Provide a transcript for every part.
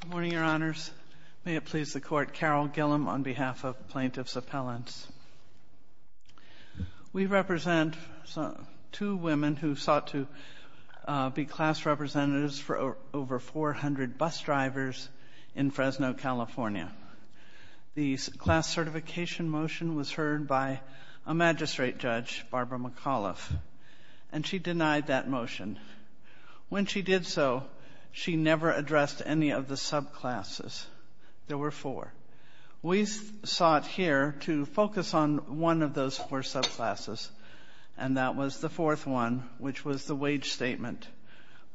Good morning, Your Honors. May it please the Court, Carol Gillum on behalf of Plaintiffs' Appellants. We represent two women who sought to be class representatives for over 400 bus drivers in Fresno, California. The class certification motion was heard by a magistrate judge, Barbara McAuliffe, and she denied that motion. When she did so, she never addressed any of the subclasses. There were four. We sought here to focus on one of those four subclasses, and that was the fourth one, which was the wage statement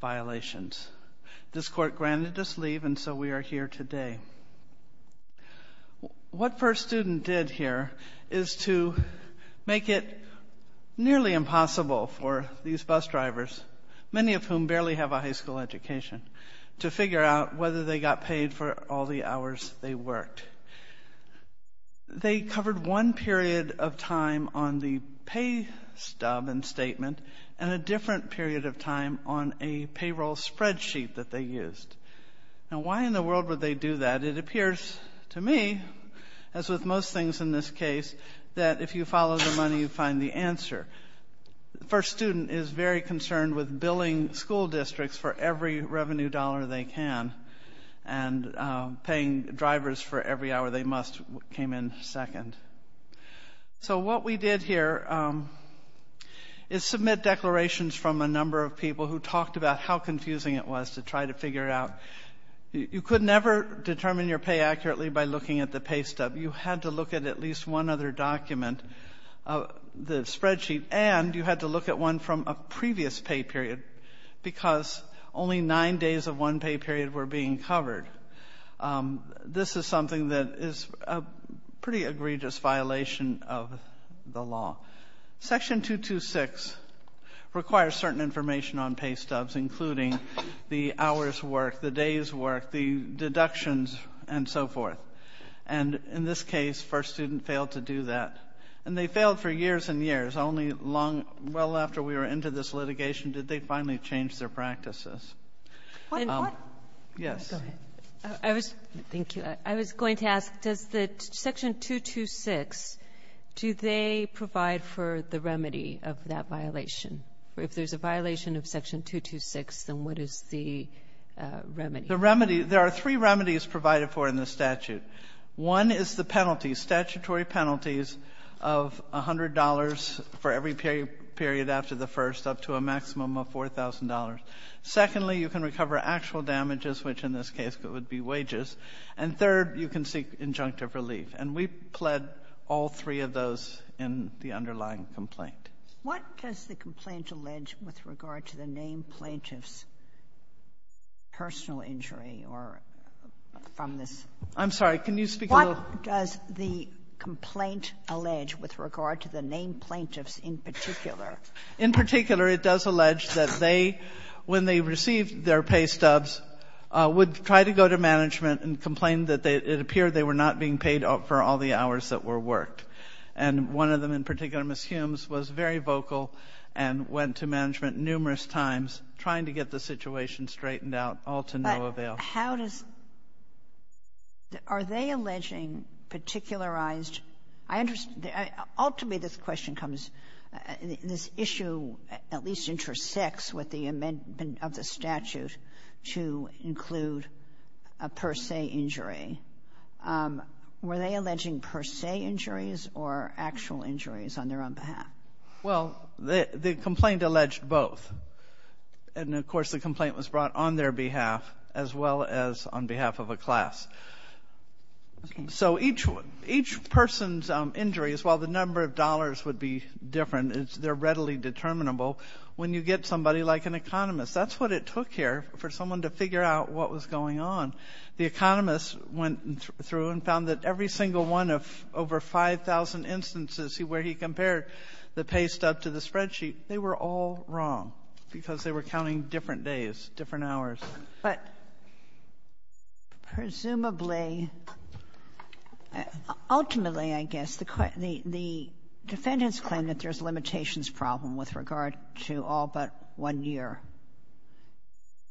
violations. This Court granted us leave, and so we are here today. What First Student did here is to make it not just a nearly impossible for these bus drivers, many of whom barely have a high school education, to figure out whether they got paid for all the hours they worked. They covered one period of time on the pay stub and statement, and a different period of time on a payroll spreadsheet that they used. Now, why in the world would they do that? It appears to me, as with most things in this case, that if you follow the money, you find the answer. First Student is very concerned with billing school districts for every revenue dollar they can, and paying drivers for every hour they must came in second. So what we did here is submit declarations from a number of people who talked about how confusing it was to try to figure it out. You could never determine your pay accurately by looking at the pay stub. You had to look at at least one other document, the spreadsheet, and you had to look at one from a previous pay period because only nine days of one pay period were being covered. This is something that is a pretty egregious violation of the law. Section 226 requires certain information on pay stubs, including the hours worked, the days worked, the deductions, and so forth. And in this case, First Student failed to do that. And they failed for years and years. Only long — well, after we were into this litigation, did they finally change their practices. Kagan and Kagan What? Kagan and Sotomayor Yes. Kagan and Sotomayor Go ahead. Kagan and Sotomayor Thank you. I was going to ask, does the Section 226, do they provide for the remedy of that violation? If there's a violation of Section 226, then what is the Kagan and Sotomayor The remedy — there are three remedies provided for in the statute. One is the penalty, statutory penalties of $100 for every period after the first up to a maximum of $4,000. Secondly, you can recover actual damages, which in this case would be wages. And third, you can seek injunctive relief. And we pled all three of those in the underlying complaint. Kagan What does the complaint allege with regard to the named plaintiffs' personal injury or from this? Sotomayor I'm sorry. Can you speak a little — Kagan What does the complaint allege with regard to the named plaintiffs in particular? Sotomayor In particular, it does allege that they, when they received their pay stubs, would try to go to management and complain that it appeared they were not being paid for all the hours that were worked. And one of them, in particular, Ms. Humes, was very vocal and went to management numerous times trying to get the situation straightened out, all to no avail. Kagan But how does — are they alleging particularized — I understand — ultimately, this question comes — this issue at least intersects with the amendment of the statute to include a per se injury. Were they alleging per se injuries or actual injuries on their own behalf? Sotomayor Well, the complaint alleged both. And, of course, the complaint was brought on their behalf as well as on behalf of a class. So each person's injuries, while the number of dollars would be different, they're That's what it took here for someone to figure out what was going on. The economist went through and found that every single one of over 5,000 instances where he compared the pay stub to the spreadsheet, they were all wrong because they were counting different days, different hours. Kagan But presumably, ultimately, I guess, the defendant's claim that there's a limitations problem with regard to all but one year,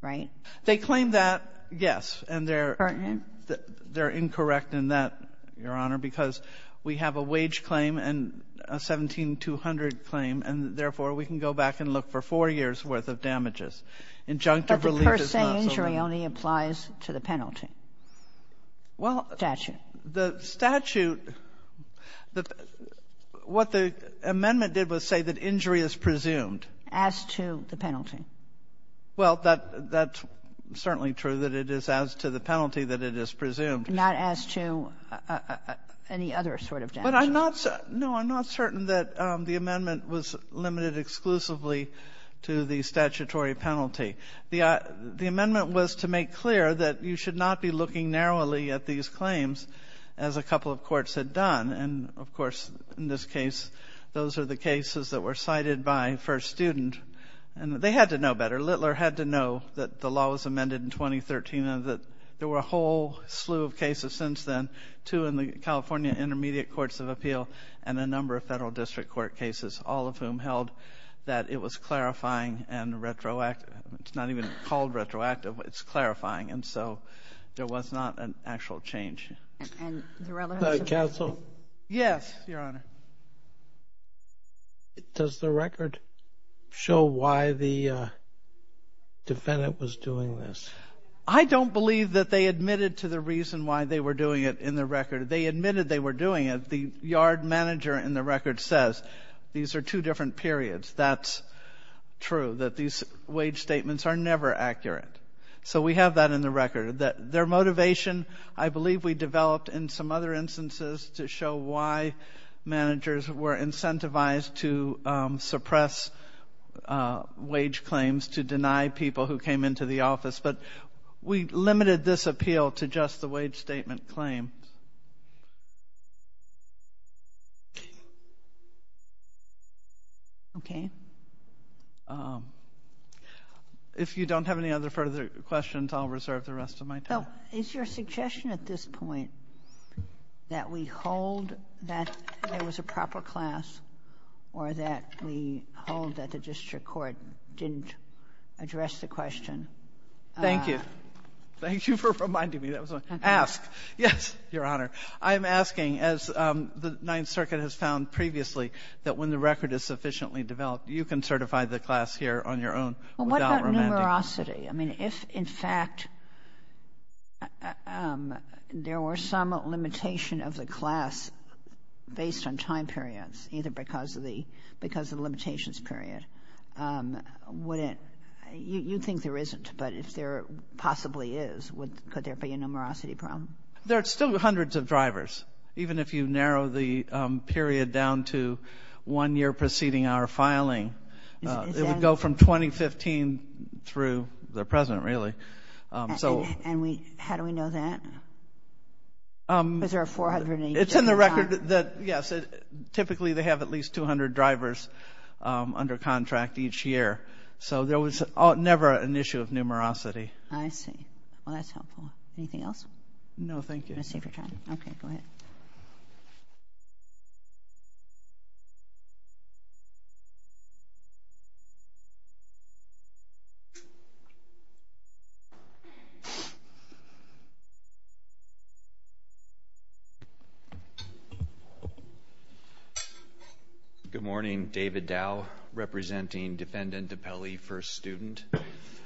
right? Sotomayor They claim that, yes. And they're — Kagan Pertinent? Sotomayor They're incorrect in that, Your Honor, because we have a wage claim and a 17-200 claim, and therefore, we can go back and look for four years' worth of damages. Injunctive relief is not so — Kagan But the per se injury only applies to the penalty. Sotomayor Well — Kagan Statute. Sotomayor The statute — what the amendment did was say that injury is presumed. Kagan As to the penalty. Sotomayor Well, that's certainly true, that it is as to the penalty that it is presumed. Kagan Not as to any other sort of damage. Sotomayor But I'm not — no, I'm not certain that the amendment was limited exclusively to the statutory penalty. The amendment was to make clear that you should not be looking narrowly at these claims as a couple of courts had done. And, of course, in this case, those are the cases that were cited by First Student. And they had to know better. Littler had to know that the law was amended in 2013 and that there were a whole slew of cases since then, two in the California Intermediate Courts of Appeal and a number of Federal District Court cases, all of whom held that it was clarifying and retroactive. It's not even called retroactive. It's clarifying. And so there was not an actual change. Kagan And the relevance of the statute? Sotomayor Yes, Your Honor. Kagan Does the record show why the defendant was doing this? Sotomayor I don't believe that they admitted to the reason why they were doing it in the record. They admitted they were doing it. The yard manager in the record says these are two different periods. That's true, that these wage statements are never accurate. So we have that in the record. Their motivation, I believe we developed in some other instances to show why managers were incentivized to suppress wage claims to deny people who came into the office. But we limited this appeal to just the wage statement claim. Kagan Okay. Sotomayor If you don't have any other further questions, I'll reserve the rest of my time. Kagan Is your suggestion at this point that we hold that there was a proper class or that we hold that the district court didn't address the question? Sotomayor Thank you. Thank you for reminding me that was my question. Ask. Yes. Your Honor, I'm asking, as the Ninth Circuit has found previously, that when the record is sufficiently developed, you can certify the class here on your own without remanding. Kagan Well, what about numerosity? I mean, if, in fact, there were some limitation of the class based on time periods, either because of the limitations period, would it you think there isn't, but if there possibly is, could there be a numerosity problem? Sotomayor There are still hundreds of drivers, even if you narrow the period down to one year preceding our filing. It would go from 2015 through the present, really. Kagan And how do we know that? Is there a 400-year time? Sotomayor It's in the record that, yes, typically they have at least 200 drivers under contract each year. So there was never an issue of numerosity. Kagan I see. Well, that's helpful. Anything else? Sotomayor No, thank you. Kagan I'm going to save your time. Okay, go ahead. David Dow Good morning. David Dow, representing Defendant DiPelle, first student.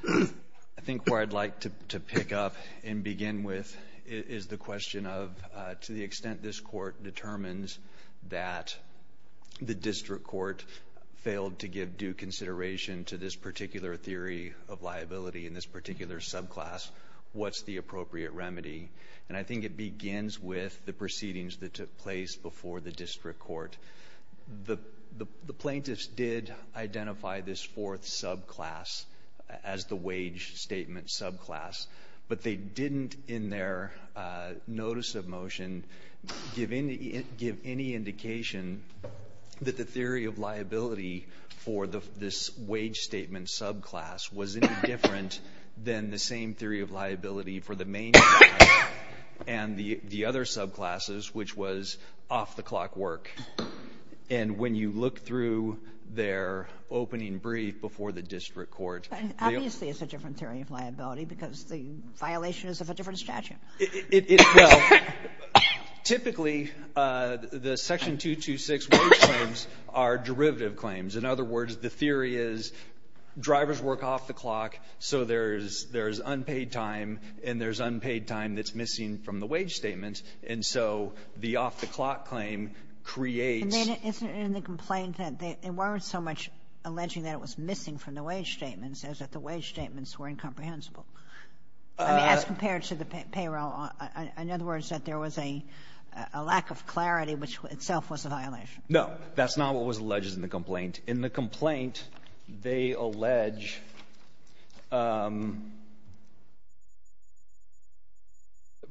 I think where I'd like to pick up and begin with is the question of to the extent this court determines that the district court failed to give due consideration to this particular theory of liability in this particular subclass, what's the appropriate remedy? And I think it begins with the proceedings that took place before the district court. The plaintiffs did identify this fourth subclass as the wage statement subclass, but they didn't in their notice of motion give any indication that the theory of liability for this wage statement subclass was any different than the same theory of liability for the main class and the other subclasses, which was off-the-clock work. And when you look through their opening brief before the district court... Well, typically, the Section 226 wage claims are derivative claims. In other words, the theory is drivers work off the clock, so there's unpaid time, and there's unpaid time that's missing from the wage statement. And so the off-the-clock claim creates... Kagan Isn't it in the complaint that they weren't so much alleging that it was missing from the wage statements as that the wage statements were incomprehensible? I mean, as compared to the payroll. In other words, that there was a lack of clarity, which itself was a violation. No. That's not what was alleged in the complaint. In the complaint, they allege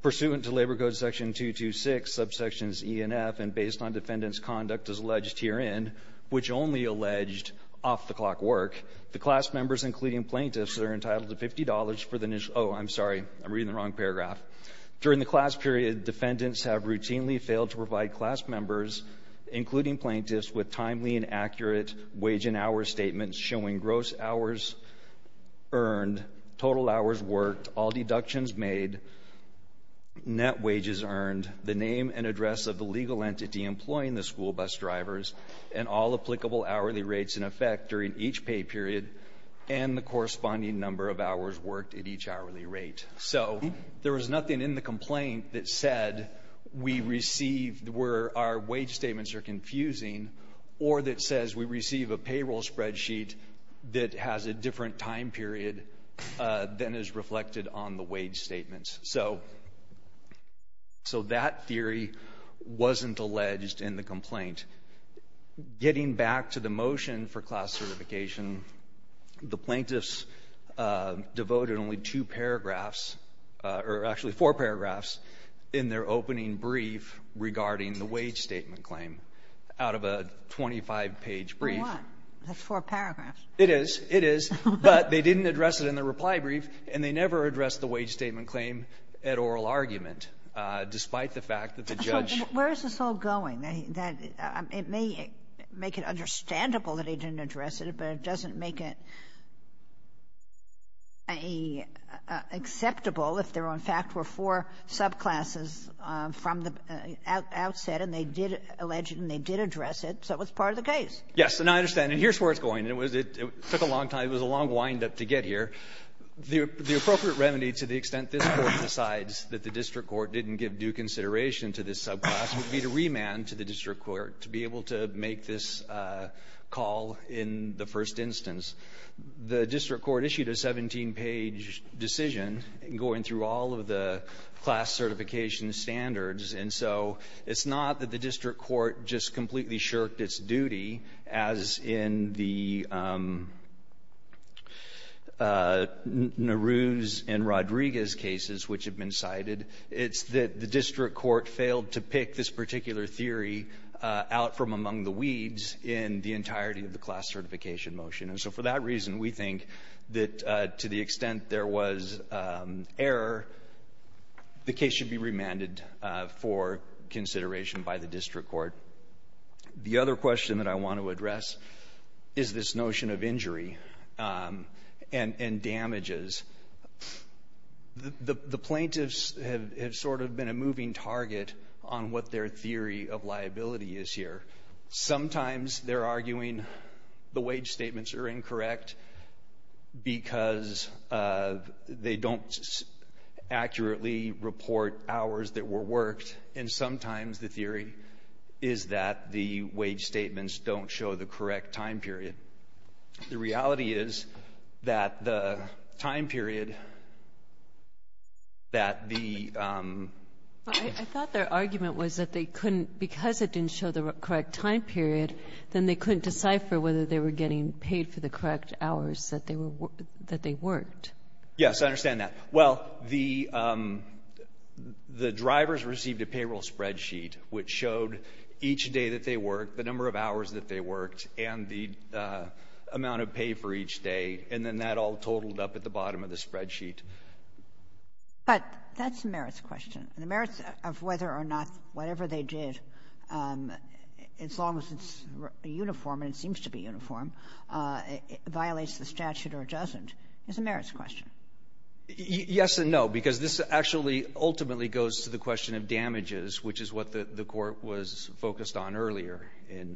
pursuant to Labor Code Section 226, subsections E and F, and based on defendant's conduct as alleged herein, which only alleged off-the-clock work, the class members, including plaintiffs, are entitled to $50 for the initial... Oh, I'm sorry. I'm reading the wrong paragraph. During the class period, defendants have routinely failed to provide class members, including plaintiffs, with timely and accurate wage and hour statements showing gross hours earned, total hours worked, all deductions made, net wages earned, the name and address of the legal entity employing the school bus drivers, and all applicable hourly rates in effect during each pay period and the corresponding number of hours worked at each hourly rate. So there was nothing in the complaint that said we received where our wage statements are confusing or that says we receive a payroll spreadsheet that has a different time period than is reflected on the wage statements. So that theory wasn't alleged in the complaint. Getting back to the motion for class certification, the plaintiffs devoted only two paragraphs, or actually four paragraphs, in their opening brief regarding the wage statement claim out of a 25-page brief. Kagan. That's four paragraphs. It is. It is. But they didn't address it in the reply brief, and they never addressed the wage statement claim at oral argument, despite the fact that the judge ---- Kagan. Where is this all going? It may make it understandable that they didn't address it, but it doesn't make it acceptable if there, in fact, were four subclasses from the outset and they did allege it and they did address it, so it was part of the case. Yes. And I understand. And here's where it's going. It took a long time. It was a long windup to get here. The appropriate remedy, to the extent this Court decides that the district court didn't give due consideration to this subclass, would be to remand to the district court to be able to make this call in the first instance. The district court issued a 17-page decision going through all of the class certification standards, and so it's not that the district court just completely shirked its duty, as in the Naruse and Rodriguez cases which have been cited. It's that the district court failed to pick this particular theory out from among the weeds in the entirety of the class certification motion. And so for that reason, we think that to the extent there was error, the case should be remanded for consideration by the district court. The other question that I want to address is this notion of injury and damages. The plaintiffs have sort of been a moving target on what their theory of liability is here. Sometimes they're arguing the wage statements are incorrect because they don't accurately report hours that were worked, and sometimes the theory is that the wage statements don't show the correct time period. The reality is that the time period that the ---- Kagan. I thought their argument was that they couldn't ---- because it didn't show the correct time period, then they couldn't decipher whether they were getting paid for the correct hours that they were ---- that they worked. Yes, I understand that. Well, the drivers received a payroll spreadsheet which showed each day that they worked, the number of hours that they worked, and the amount of pay for each day, and then that all totaled up at the bottom of the spreadsheet. But that's a merits question. The merits of whether or not whatever they did, as long as it's uniform and it seems to be uniform, violates the statute or doesn't is a merits question. Yes and no, because this actually ultimately goes to the question of damages, which is what the Court was focused on earlier in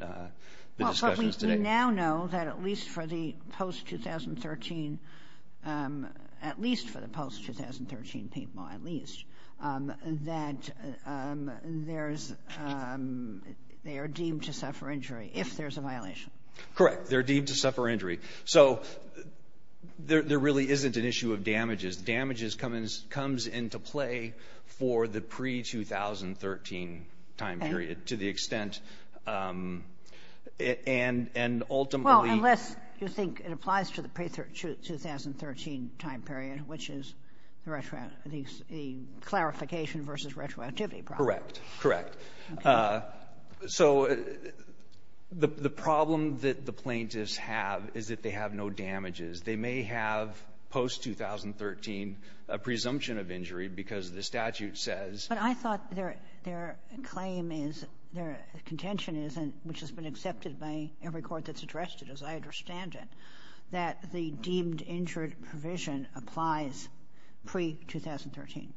the discussions today. But we now know that at least for the post-2013, at least for the post-2013 people at least, that there's ---- they are deemed to suffer injury if there's a violation. Correct. They're deemed to suffer injury. So there really isn't an issue of damages. Damages comes into play for the pre-2013 time period to the extent and ultimately ---- The clarification versus retroactivity problem. Correct. Correct. Okay. So the problem that the plaintiffs have is that they have no damages. They may have post-2013 a presumption of injury because the statute says ---- But I thought their claim is, their contention is, and which has been accepted by every court that's addressed it, as I understand it, that the deemed injured provision applies pre-2013.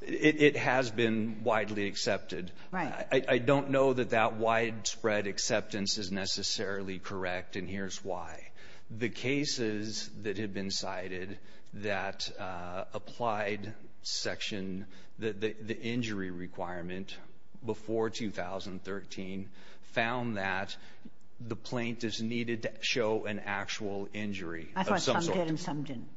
It has been widely accepted. Right. I don't know that that widespread acceptance is necessarily correct, and here's why. The cases that have been cited that applied section, the injury requirement before 2013 found that the plaintiff's needed to show an actual injury of some sort. I thought some did and some didn't.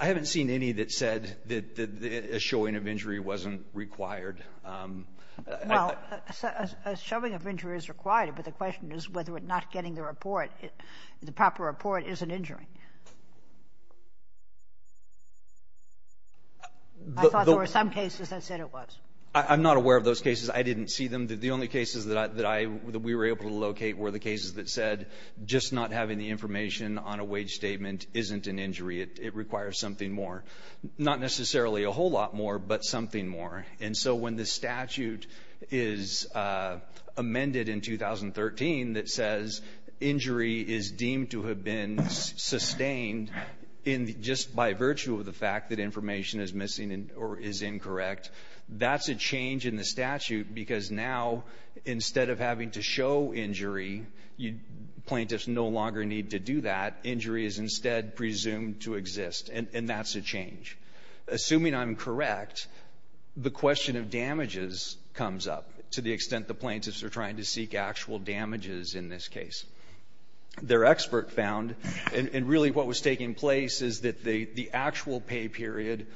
I haven't seen any that said that a showing of injury wasn't required. Well, a showing of injury is required, but the question is whether or not getting the report, the proper report, is an injury. I thought there were some cases that said it was. I'm not aware of those cases. I didn't see them. The only cases that we were able to locate were the cases that said just not having the information on a wage statement isn't an injury. It requires something more. Not necessarily a whole lot more, but something more. And so when the statute is amended in 2013 that says injury is deemed to have been sustained just by virtue of the fact that information is missing or is incorrect, that's a change in the statute because now instead of having to show injury, plaintiffs no longer need to do that. Injury is instead presumed to exist, and that's a change. Assuming I'm correct, the question of damages comes up to the extent the plaintiffs are trying to seek actual damages in this case. Their expert found, and really what was taking place is that the actual pay period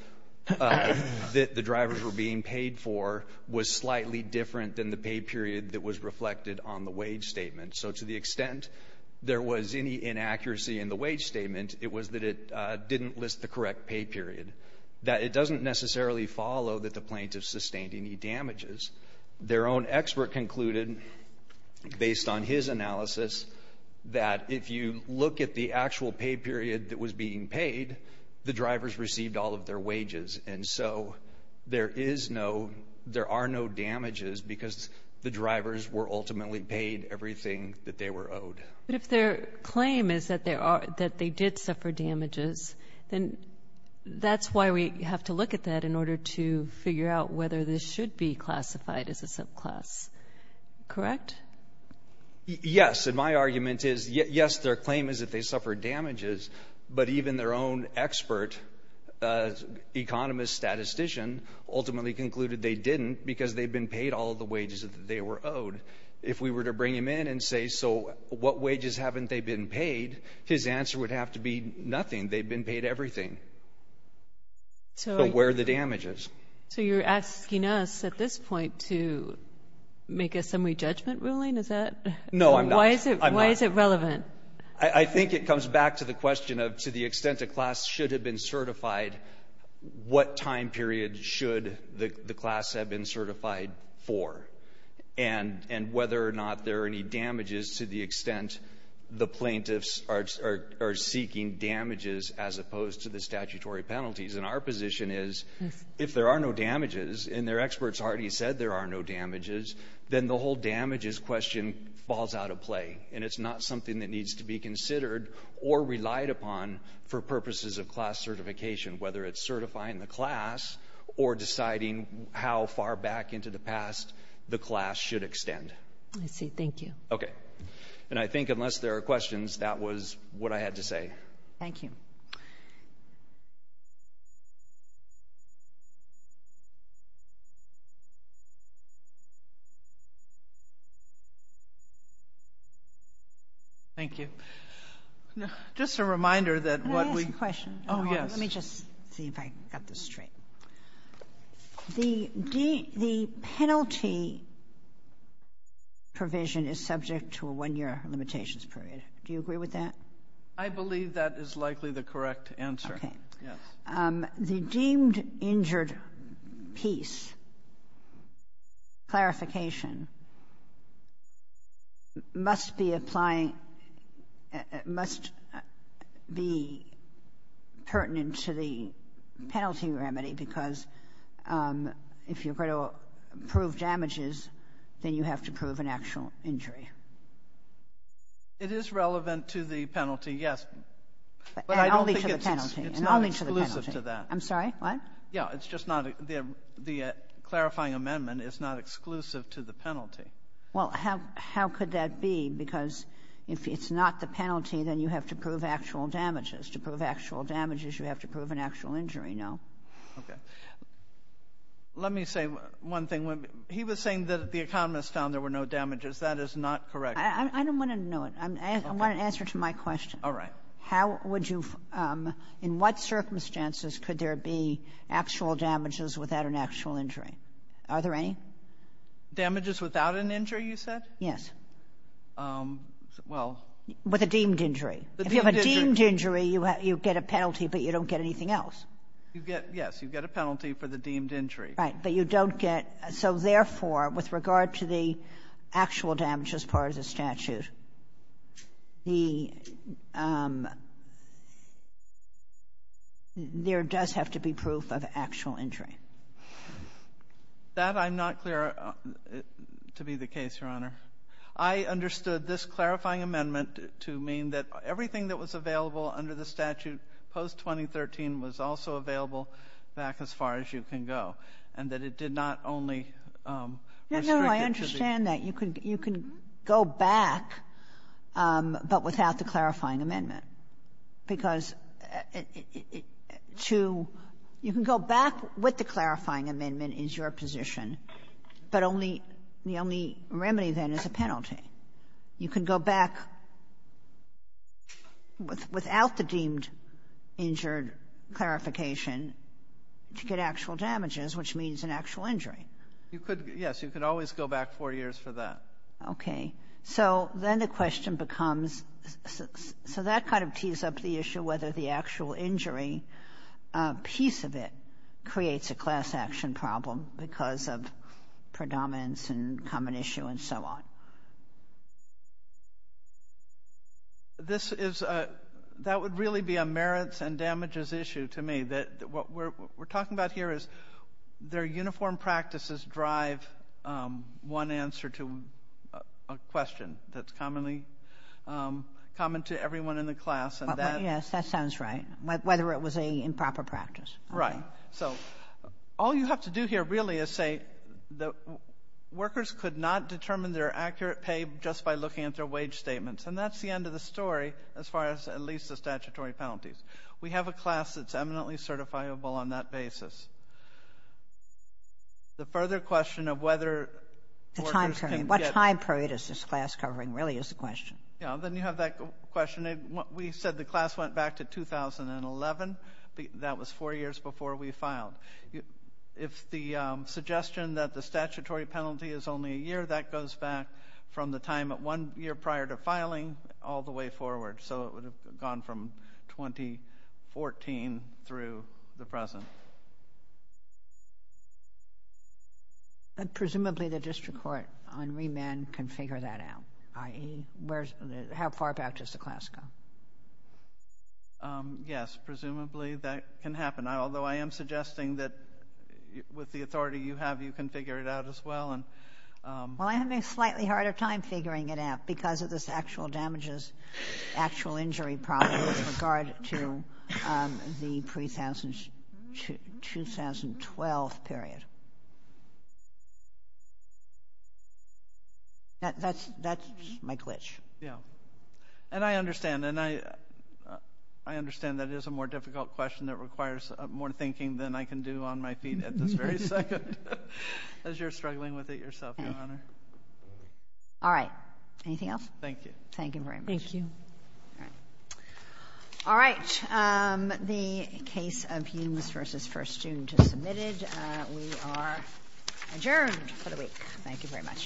that the drivers were being paid for was slightly different than the pay period that was reflected on the wage statement. So to the extent there was any inaccuracy in the wage statement, it was that it didn't list the correct pay period, that it doesn't necessarily follow that the plaintiffs sustained any damages. Their own expert concluded, based on his analysis, that if you look at the actual pay period that was being paid, the drivers received all of their wages. And so there are no damages because the drivers were ultimately paid everything that they were owed. But if their claim is that they did suffer damages, then that's why we have to look at that in order to figure out whether this should be classified as a subclass. Correct? Yes. And my argument is, yes, their claim is that they suffered damages, but even their own expert economist statistician ultimately concluded they didn't because they've been paid all of the wages that they were owed. If we were to bring him in and say, so what wages haven't they been paid, his answer would have to be nothing. They've been paid everything. So where are the damages? So you're asking us at this point to make a summary judgment ruling? Is that? No, I'm not. Why is it relevant? I think it comes back to the question of to the extent a class should have been certified, what time period should the class have been certified for, and whether or not there are any damages to the extent the plaintiffs are seeking damages as opposed to the statutory penalties. And our position is if there are no damages and their experts already said there are no damages, then the whole damages question falls out of play. And it's not something that needs to be considered or relied upon for purposes of class certification, whether it's certifying the class or deciding how far back into the past the class should extend. I see. Thank you. Okay. And I think unless there are questions, that was what I had to say. Thank you. Thank you. Just a reminder that what we ---- Can I ask a question? Oh, yes. Let me just see if I got this straight. The penalty provision is subject to a one-year limitations period. Do you agree with that? I believe that is likely the correct answer. Okay. Yes. The deemed injured piece clarification must be applying ---- must be pertinent to the penalty remedy because if you're going to prove damages, then you have to prove an actual injury. It is relevant to the penalty, yes. But I don't think it's ---- And only to the penalty. And only to the penalty. It's not exclusive to that. I'm sorry. What? Yeah. It's just not the clarifying amendment is not exclusive to the penalty. Well, how could that be? Because if it's not the penalty, then you have to prove actual damages. To prove actual damages, you have to prove an actual injury. No. Okay. Let me say one thing. He was saying that the economists found there were no damages. That is not correct. I don't want to know it. I want an answer to my question. All right. How would you ---- in what circumstances could there be actual damages without an actual injury? Are there any? Damages without an injury, you said? Yes. Well ---- With a deemed injury. If you have a deemed injury, you get a penalty, but you don't get anything else. You get ---- yes, you get a penalty for the deemed injury. Right. But you don't get ---- so therefore, with regard to the actual damage as part of the statute, the ---- there does have to be proof of actual injury. That I'm not clear to be the case, Your Honor. I understood this clarifying amendment to mean that everything that was available under the statute post-2013 was also available back as far as you can go, and that it did not only restrict it to the ---- No, no. I understand that. You can go back, but without the clarifying amendment, because to ---- you can go back with the clarifying amendment is your position, but only the only remedy, then, is a penalty. You can go back without the deemed injured clarification to get actual damages, which means an actual injury. You could, yes. You could always go back four years for that. Okay. So then the question becomes, so that kind of tees up the issue whether the actual injury piece of it creates a class action problem because of predominance and common issue and so on. This is a ---- that would really be a merits and damages issue to me. What we're talking about here is their uniform practices drive one answer to a question that's commonly common to everyone in the class, and that ---- Yes, that sounds right, whether it was an improper practice. Right. So all you have to do here, really, is say that workers could not determine their accurate pay just by looking at their wage statements, and that's the end of the story as far as at least the statutory penalties. We have a class that's eminently certifiable on that basis. The further question of whether workers can get ---- The time period. What time period is this class covering really is the question. Yes. Then you have that question. We said the class went back to 2011. That was four years before we filed. If the suggestion that the statutory penalty is only a year, that goes back from the time one year prior to filing all the way forward, so it would have gone from 2014 through the present. Presumably, the district court on remand can figure that out, i.e., how far back does the class go? Yes, presumably that can happen, although I am suggesting that with the authority you have, you can figure it out as well. Well, I'm having a slightly harder time figuring it out because of this actual damages, actual injury problem with regard to the 2012 period. That's my glitch. Yes, and I understand that it is a more difficult question that requires more thinking than I can do on my feet at this very second as you're struggling with it yourself, Your Honor. All right. Anything else? Thank you. Thank you very much. Thank you. All right. The case of Humes v. First Student is submitted. We are adjourned for the week. Thank you very much.